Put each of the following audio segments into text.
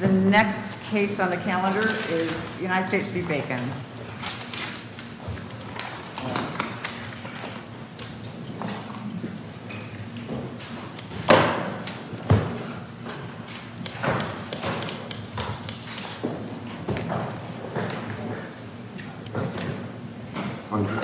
The next case on the calendar is United States v. Bacon. The next case on the calendar is United States v. Bacon. Please stand by. May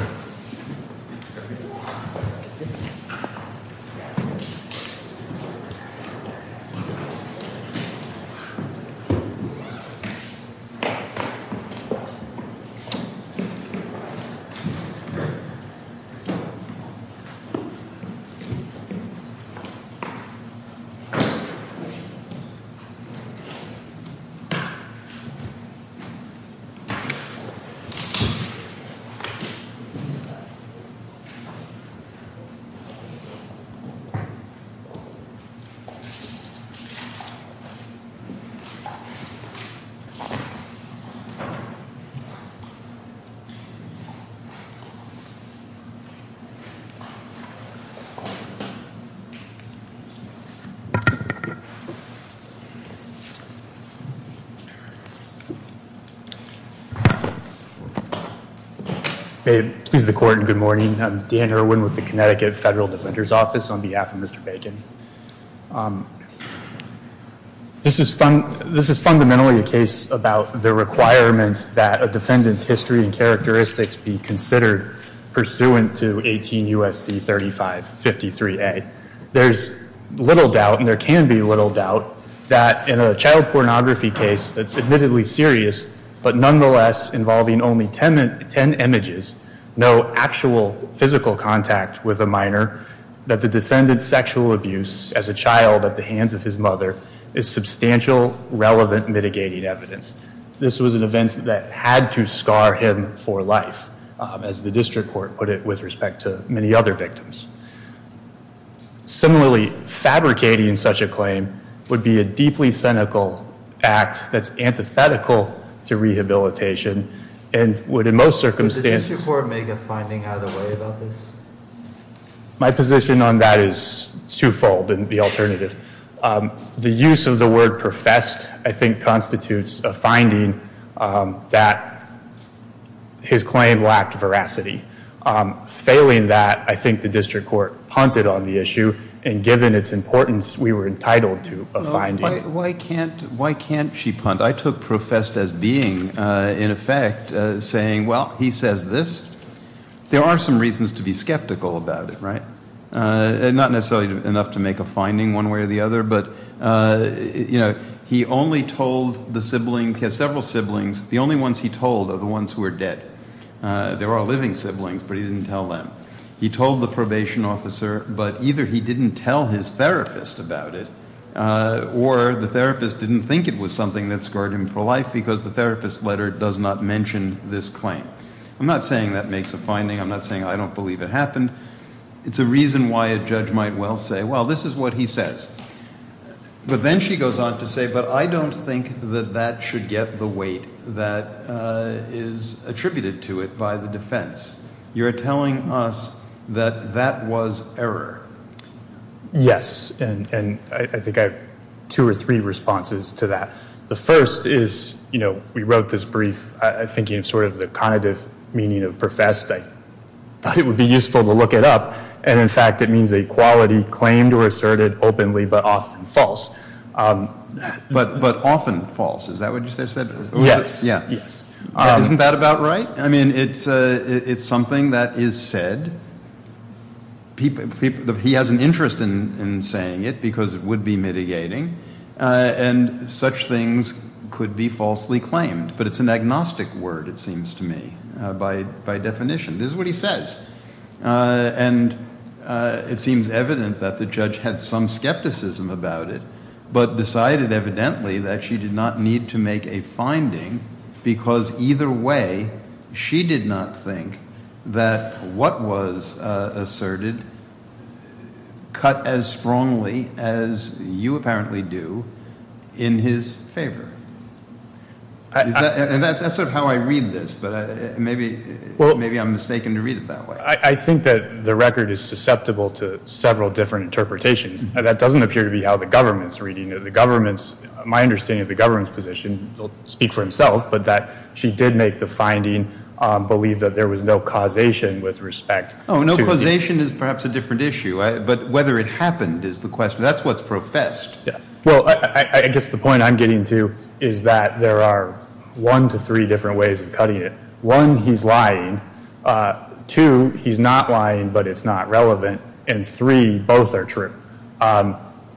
it please the court and good morning. I'm Dan Irwin with the Connecticut Federal Defender's Office on behalf of Mr. Bacon. This is fundamentally a case about the requirement that a defendant's history and characteristics be considered pursuant to 18 U.S.C. 3553A. There's little doubt, and there can be little doubt, that in a child pornography case that's admittedly serious, but nonetheless involving only 10 images, no actual physical contact with a minor, that the defendant's sexual abuse as a child at the hands of his mother is substantial, relevant, mitigating evidence. This was an event that had to scar him for life, as the district court put it with respect to many other victims. Similarly, fabricating such a claim would be a deeply cynical act that's antithetical to rehabilitation and would in most circumstances— My position on that is twofold in the alternative. The use of the word professed, I think, constitutes a finding that his claim lacked veracity. Failing that, I think the district court punted on the issue and given its importance, we were entitled to a finding. Why can't she punt? I took professed as being in effect saying, well, he says this. There are some not necessarily enough to make a finding one way or the other, but he only told the sibling—he has several siblings. The only ones he told are the ones who are dead. There are living siblings, but he didn't tell them. He told the probation officer, but either he didn't tell his therapist about it or the therapist didn't think it was something that scarred him for life because the therapist's letter does not mention this claim. I'm not saying that makes a finding. I'm not saying I don't believe it happened. It's a reason why a judge might well say, well, this is what he says. But then she goes on to say, but I don't think that that should get the weight that is attributed to it by the defense. You're telling us that that was error. Yes, and I think I have two or three responses to that. The first is, you know, we wrote this brief thinking of sort of the connotative meaning of professed. I thought it would be useful to look it up, and in fact it means a quality claimed or asserted openly but often false. But often false. Is that what you said? Yes. Isn't that about right? I mean, it's something that is said. He has an interest in saying it because it would be mitigating, and such things could be falsely claimed. But it's an agnostic word, it seems to me, by definition. This is what he says. And it seems evident that the judge had some skepticism about it, but decided evidently that she did not need to make a finding because either way, she did not think that what was asserted cut as strongly as you apparently do in his favor. And that's sort of how I read this, but maybe I'm mistaken to read it that way. I think that the record is susceptible to several different interpretations. That doesn't appear to be how the government's reading it. The government's, my understanding of the government's position will speak for himself, but that she did make the finding believe that there was no causation with respect to... Oh, no causation is perhaps a different issue. But whether it happened is the question. That's what's professed. Well, I guess the point I'm getting to is that there are one to three different ways of cutting it. One, he's lying. Two, he's not lying, but it's not relevant. And three, both are true.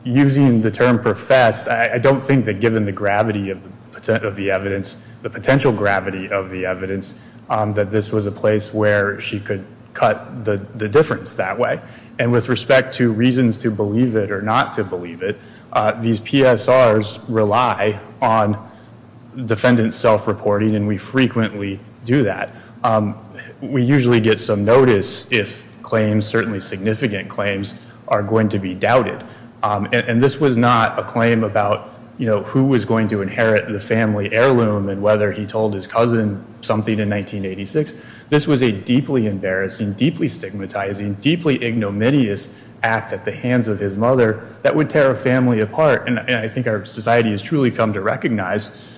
Using the term professed, I don't think that given the gravity of the evidence, the potential gravity of the evidence, that this was a place where she could believe it or not to believe it. These PSRs rely on defendant self-reporting, and we frequently do that. We usually get some notice if claims, certainly significant claims, are going to be doubted. And this was not a claim about who was going to inherit the family heirloom and whether he told his cousin something in 1986. This was a deeply embarrassing, deeply stigmatizing, deeply ignominious act at the hands of his mother that would tear a family apart. And I think our society has truly come to recognize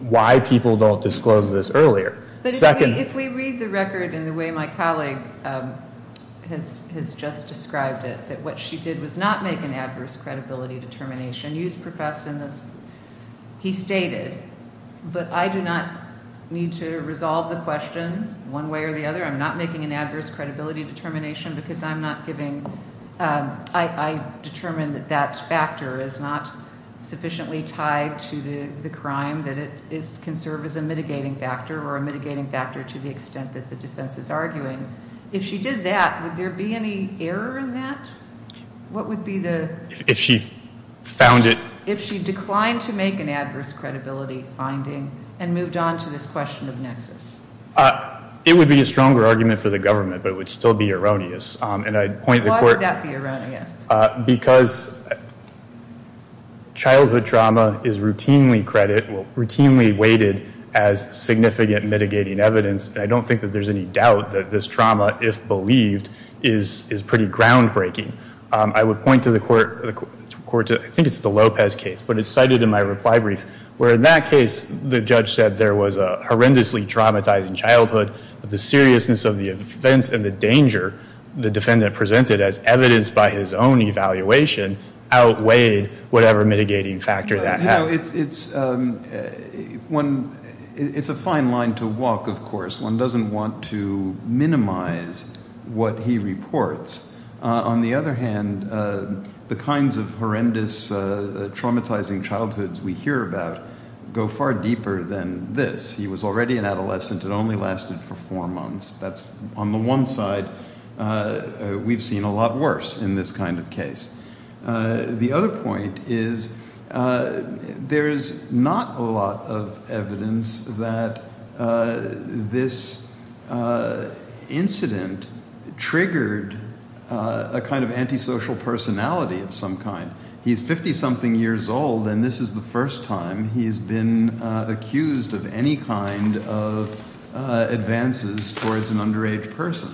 why people don't disclose this earlier. But if we read the record in the way my colleague has just described it, that what she did was not make an adverse credibility determination. You just professed in this. He stated, but I do not need to resolve the question one way or the other. I'm not making an adverse credibility determination because I'm not giving, I determined that that factor is not sufficiently tied to the crime, that it can serve as a mitigating factor or a mitigating factor to the extent that the defense is arguing. If she did that, would there be any error in that? What would be the... If she found it... If she declined to make an adverse credibility finding and moved on to this question of nexus. It would be a stronger argument for the government, but it would still be erroneous. Why would that be erroneous? Because childhood trauma is routinely weighted as significant mitigating evidence. I don't think that there's any doubt that this trauma, if believed, is pretty groundbreaking. I would point to the court, I think it's the Lopez case, but it's cited in my reply brief, where in that case the judge said there was a horrendously traumatizing childhood, but the seriousness of the events and the danger the defendant presented as evidence by his own evaluation outweighed whatever mitigating factor that had. It's a fine line to walk, of course. One doesn't want to minimize what he reports. On the other hand, the kinds of horrendous traumatizing childhoods we hear about go far deeper than this. He was already an adolescent and only lasted for four months. That's, on the one side, we've seen a lot worse in this kind of case. The other point is there's not a lot of evidence that this incident triggered a kind of antisocial personality of some kind. He's 50-something years old and this is the first time he's been accused of any kind of advances towards an underage person.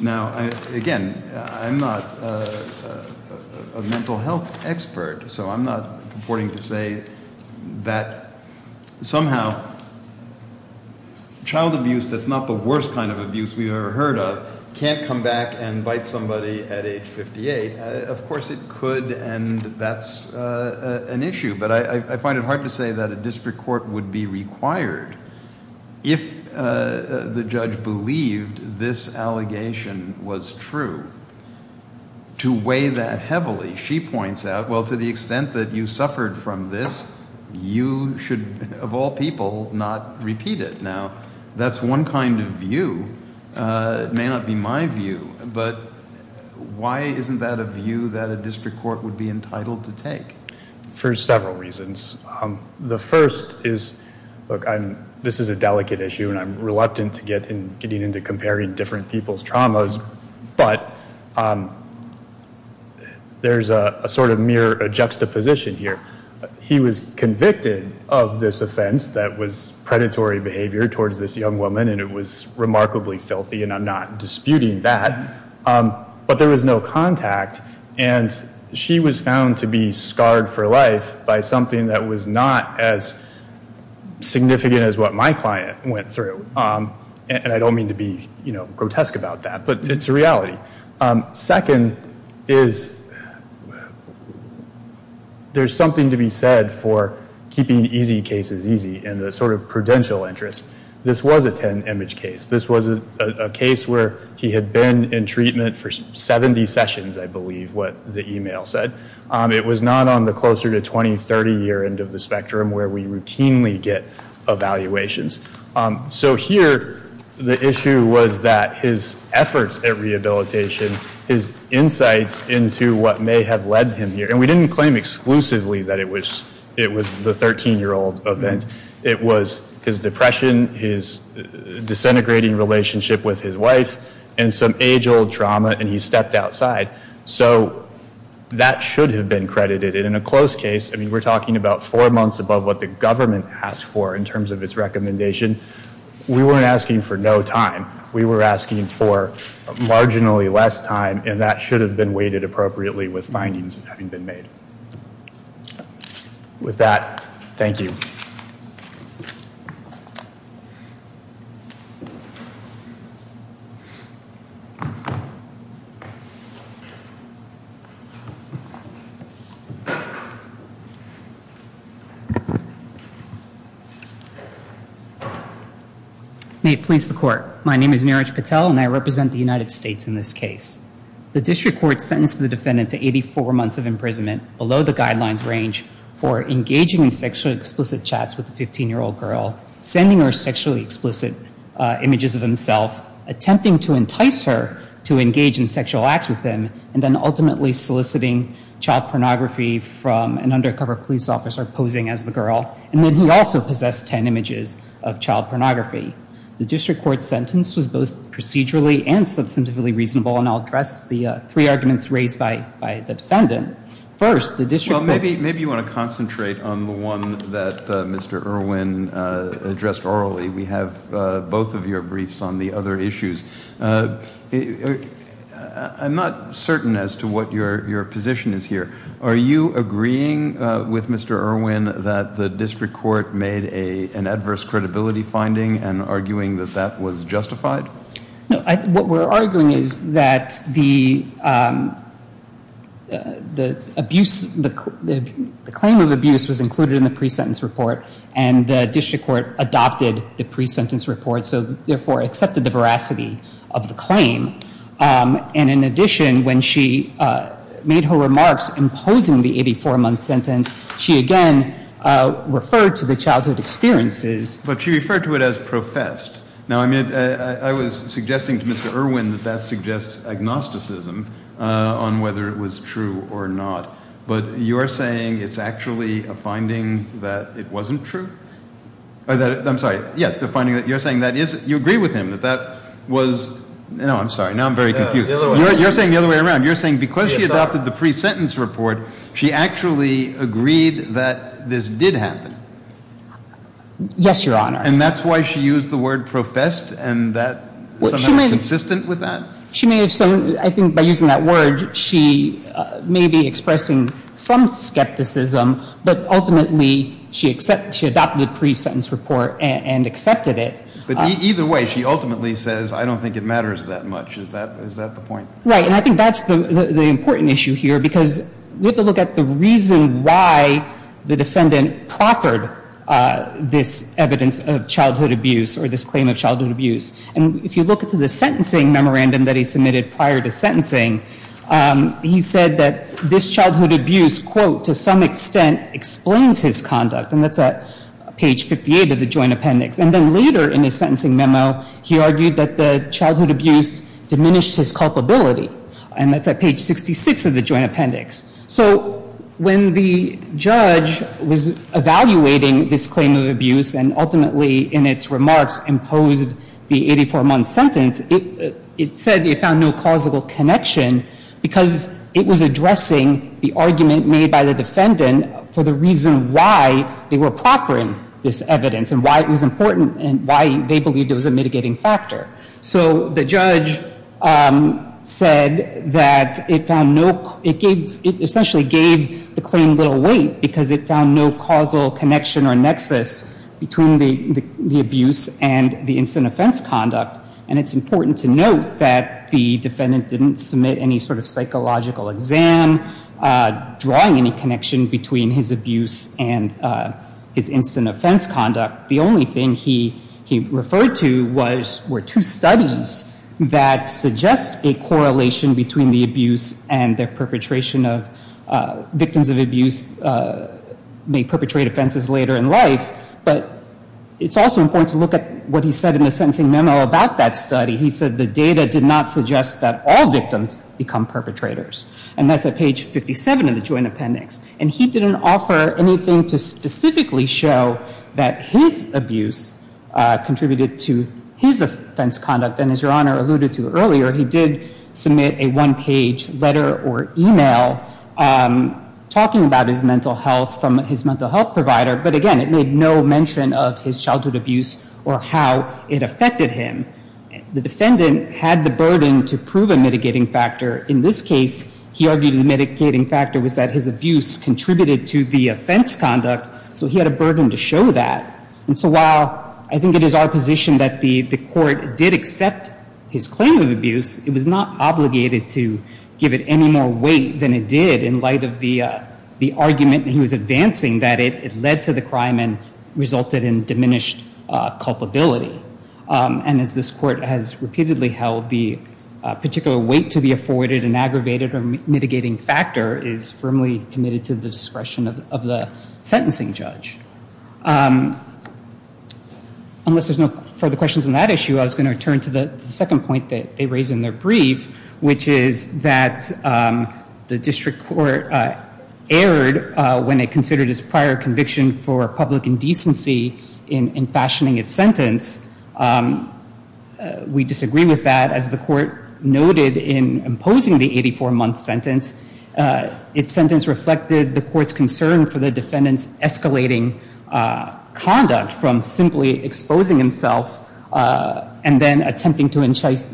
Now, again, I'm not a mental health expert, so I'm not purporting to say that somehow child abuse, that's not the worst kind of abuse we've ever heard of, can't come back and bite somebody at age 58. Of course it could, and that's an issue. But I find it hard to say that a district court would be required, if the judge believed this allegation was true, to weigh that heavily. She points out, well, to the extent that you suffered from this, you should, of all people, not repeat it. Now, that's one kind of view. It may not be my view, but why isn't that a view that a district court would be entitled to take? For several reasons. The first is, look, this is a delicate issue and I'm reluctant to get into comparing different people's traumas, but there's a sort of mere juxtaposition here. He was convicted of this offense that was predatory behavior towards this young woman, and it was remarkably filthy, and I'm not she was found to be scarred for life by something that was not as significant as what my client went through. And I don't mean to be grotesque about that, but it's a reality. Second is, there's something to be said for keeping easy cases easy, and the sort of prudential interest. This was a 10-image case. This was a case where he had been in treatment for 70 sessions, I believe what the email said. It was not on the closer to 20, 30 year end of the spectrum where we routinely get evaluations. So here, the issue was that his efforts at rehabilitation, his insights into what may have led him here, and we didn't claim exclusively that it was the 13-year-old event. It was his depression, his disintegrating relationship with his wife, and some age-old trauma, and he stepped outside. So that should have been credited, and in a close case, I mean, we're talking about four months above what the government asked for in terms of its recommendation. We weren't asking for no time. We were asking for marginally less time, and that should have been weighted appropriately with findings having been made. With that, thank you. May it please the Court. My name is Neeraj Patel, and I represent the United States in this case. The District Court sentenced the defendant to 84 months of imprisonment below the guidelines range for engaging in sexually explicit chats with a 15-year-old girl, sending her sexually explicit images of himself, attempting to entice her to engage in sexual acts with him, and then ultimately soliciting child pornography from an undercover police officer posing as the girl, and then he also possessed 10 images of child pornography. The District Court's sentence was both procedurally and substantively reasonable, and I'll address the three arguments raised by the defendant. First, the District Court... Well, maybe you want to concentrate on the one that Mr. Irwin addressed orally. We have both of your briefs on the other issues. I'm not certain as to what your position is here. Are you agreeing with Mr. Irwin that the District Court made an adverse credibility finding and arguing that that was justified? No. What we're arguing is that the abuse... The claim of abuse was included in the pre-sentence report, and the District Court adopted the pre-sentence report, so therefore accepted the veracity of the claim. And in addition, when she made her remarks imposing the 84-month sentence, she again referred to the childhood experiences. But she referred to it as professed. Now, I was suggesting to Mr. Irwin that that suggests agnosticism on whether it was true or not, but you're saying it's actually a finding that it wasn't true? I'm sorry. Yes, the finding that you're saying that is... You agree with him that that was... No, I'm sorry. Now I'm very confused. You're saying the other way around. You're saying because she adopted the pre-sentence report, she actually agreed that this did happen? Yes, Your Honor. And that's why she used the word professed and that was consistent with that? She may have... I think by using that word, she may be expressing some assertion that it was true, but ultimately she adopted the pre-sentence report and accepted it. But either way, she ultimately says, I don't think it matters that much. Is that the point? Right, and I think that's the important issue here because we have to look at the reason why the defendant proffered this evidence of childhood abuse or this claim of childhood abuse. And if you look at the sentencing memorandum that he submitted prior to sentencing, he said that this childhood abuse, quote, to some extent explains his conduct. And that's at page 58 of the joint appendix. And then later in his sentencing memo, he argued that the childhood abuse diminished his culpability. And that's at page 66 of the joint appendix. So when the judge was evaluating this claim of abuse and ultimately in its remarks imposed the 84-month sentence, it said he found no causal connection because it was addressing the argument made by the defendant for the reason why they were proffering this evidence and why it was important and why they believed it was a mitigating factor. So the judge said that it found no, it gave, it essentially gave the claim little weight because it found no causal connection or nexus between the abuse and the instant offense conduct. And it's important to note that the defendant didn't submit any sort of psychological exam drawing any connection between his abuse and his instant offense conduct. The only thing he referred to were two studies that suggest a correlation between the abuse and their perpetration of, victims of abuse may perpetrate offenses later in life. But it's also important to look at what he said in the sentencing memo about that study. He said the data did not suggest that all victims become perpetrators. And that's at page 57 of the joint appendix. And he didn't offer anything to specifically show that his abuse contributed to his offense conduct. And as Your Honor alluded to earlier, he did submit a one-page letter or email talking about his mental health from his mental health provider. But again, it made no mention of his childhood abuse or how it had the burden to prove a mitigating factor. In this case, he argued the mitigating factor was that his abuse contributed to the offense conduct. So he had a burden to show that. And so while I think it is our position that the court did accept his claim of abuse, it was not obligated to give it any more weight than it did in light of the argument he was advancing that it led to the crime and resulted in diminished culpability. And as this court has repeatedly held, the particular weight to the afforded and aggravated or mitigating factor is firmly committed to the discretion of the sentencing judge. Unless there's no further questions on that issue, I was going to return to the second point that they raised in their brief, which is that the district court erred when it considered his prior conviction for public indecency in fashioning its sentence. We disagree with that. As the court noted in imposing the 84-month sentence, its sentence reflected the court's concern for the defendant's escalating conduct from simply exposing himself and then attempting to incite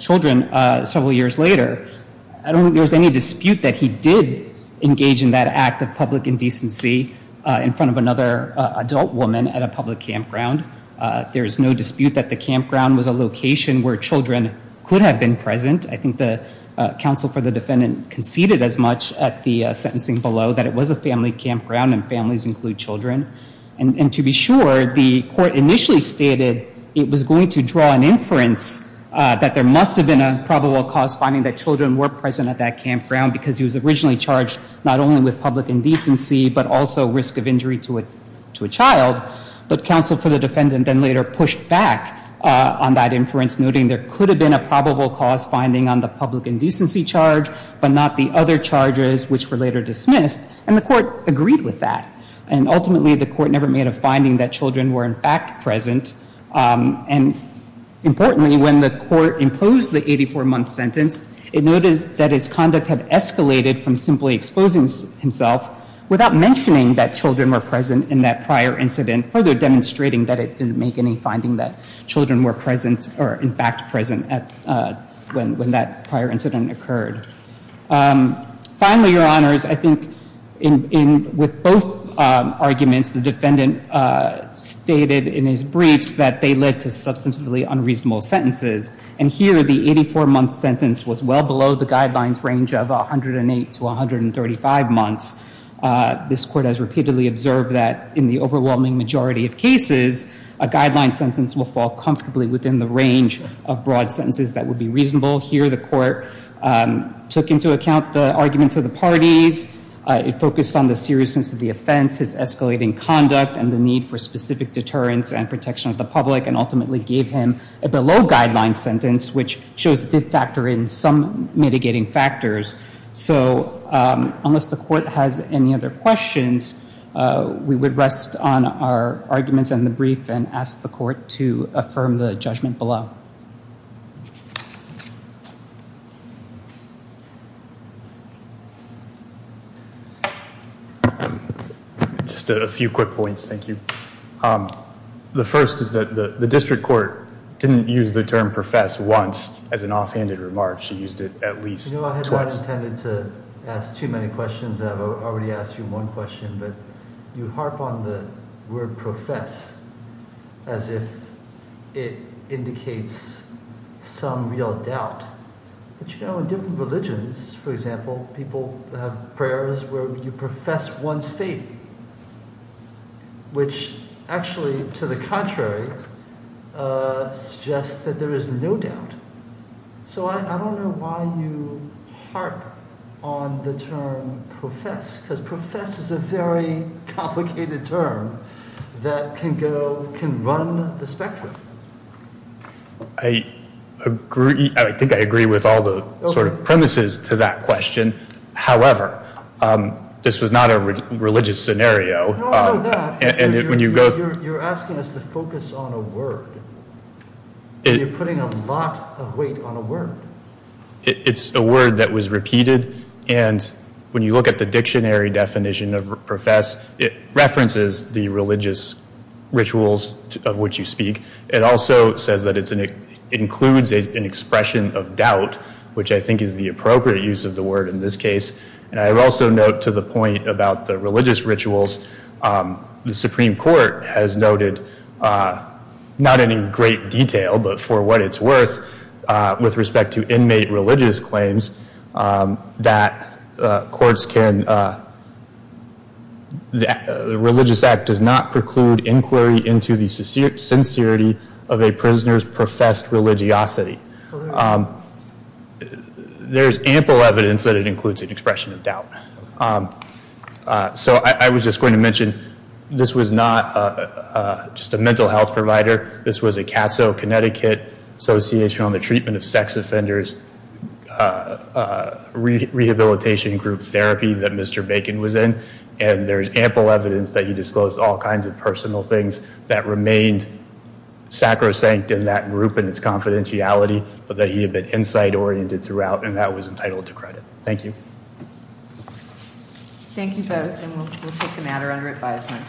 children several years later. I don't think there's any dispute that he did engage in that act of public indecency in front of another adult woman at a public campground. There's no dispute that the campground was a location where children could have been present. I think the counsel for the defendant conceded as much at the sentencing below that it was a family campground and families include children. And to be sure, the court initially stated it was going to draw an inference that there must have been a probable cause finding that children were present at that campground because he was originally charged not only with public indecency, but also risk of injury to a child. But counsel for the defendant then later pushed back on that inference, noting there could have been a probable cause finding on the public indecency charge, but not the other charges, which were later dismissed. And the court agreed with that. And ultimately, the court never made a finding that children were in fact present. And importantly, when the court imposed the 84-month sentence, it noted that its conduct had been to expose himself without mentioning that children were present in that prior incident, further demonstrating that it didn't make any finding that children were present or in fact present when that prior incident occurred. Finally, Your Honors, I think with both arguments, the defendant stated in his briefs that they led to substantively unreasonable sentences. And here, the 84-month sentence was well below the guidelines range of 108 to 135 months. This court has repeatedly observed that in the overwhelming majority of cases, a guideline sentence will fall comfortably within the range of broad sentences that would be reasonable. Here, the court took into account the arguments of the parties. It focused on the seriousness of the offense, his escalating conduct, and the need for specific deterrence and protection of the public and ultimately gave him a below-guideline sentence, which shows it did occur in some mitigating factors. So unless the court has any other questions, we would rest on our arguments in the brief and ask the court to affirm the judgment below. Just a few quick points, thank you. The first is that the district court didn't use the term profess once as an offhanded remark. She used it at least twice. You know, I had not intended to ask too many questions. I've already asked you one question, but you harp on the word profess as if it indicates some real doubt. But you know, in different religions, for example, people have prayers where you profess one's faith, which actually, to the contrary, suggests that there is no doubt. So I don't know why you harp on the term profess, because profess is a very complicated term that can run the spectrum. I think I agree with all the sort of premises to that question. However, this was not a religious scenario. You're asking us to focus on a word. You're putting a lot of weight on a word. It's a word that was repeated, and when you look at the dictionary definition of profess, it references the religious rituals of which you speak. It also says that it includes an expression of doubt, which I think is the appropriate use of the word in this case. And I also note to the point about the religious rituals, the Supreme Court has noted not in any great detail, but for what it's worth, with respect to inmate religious claims, that courts can the Religious Act does not preclude inquiry into the sincerity of a prisoner's professed religiosity. There's ample evidence that it includes an expression of doubt. So I was just going to mention this was not just a mental health provider. This was a CAATSO, Connecticut Association on the Treatment of Sex Offenders rehabilitation group therapy that Mr. Bacon was in, and there's ample evidence that he disclosed all kinds of personal things that remained sacrosanct in that group and its confidentiality, but that he had been insight-oriented throughout, and that was Thank you both, and we'll take the matter under advisement.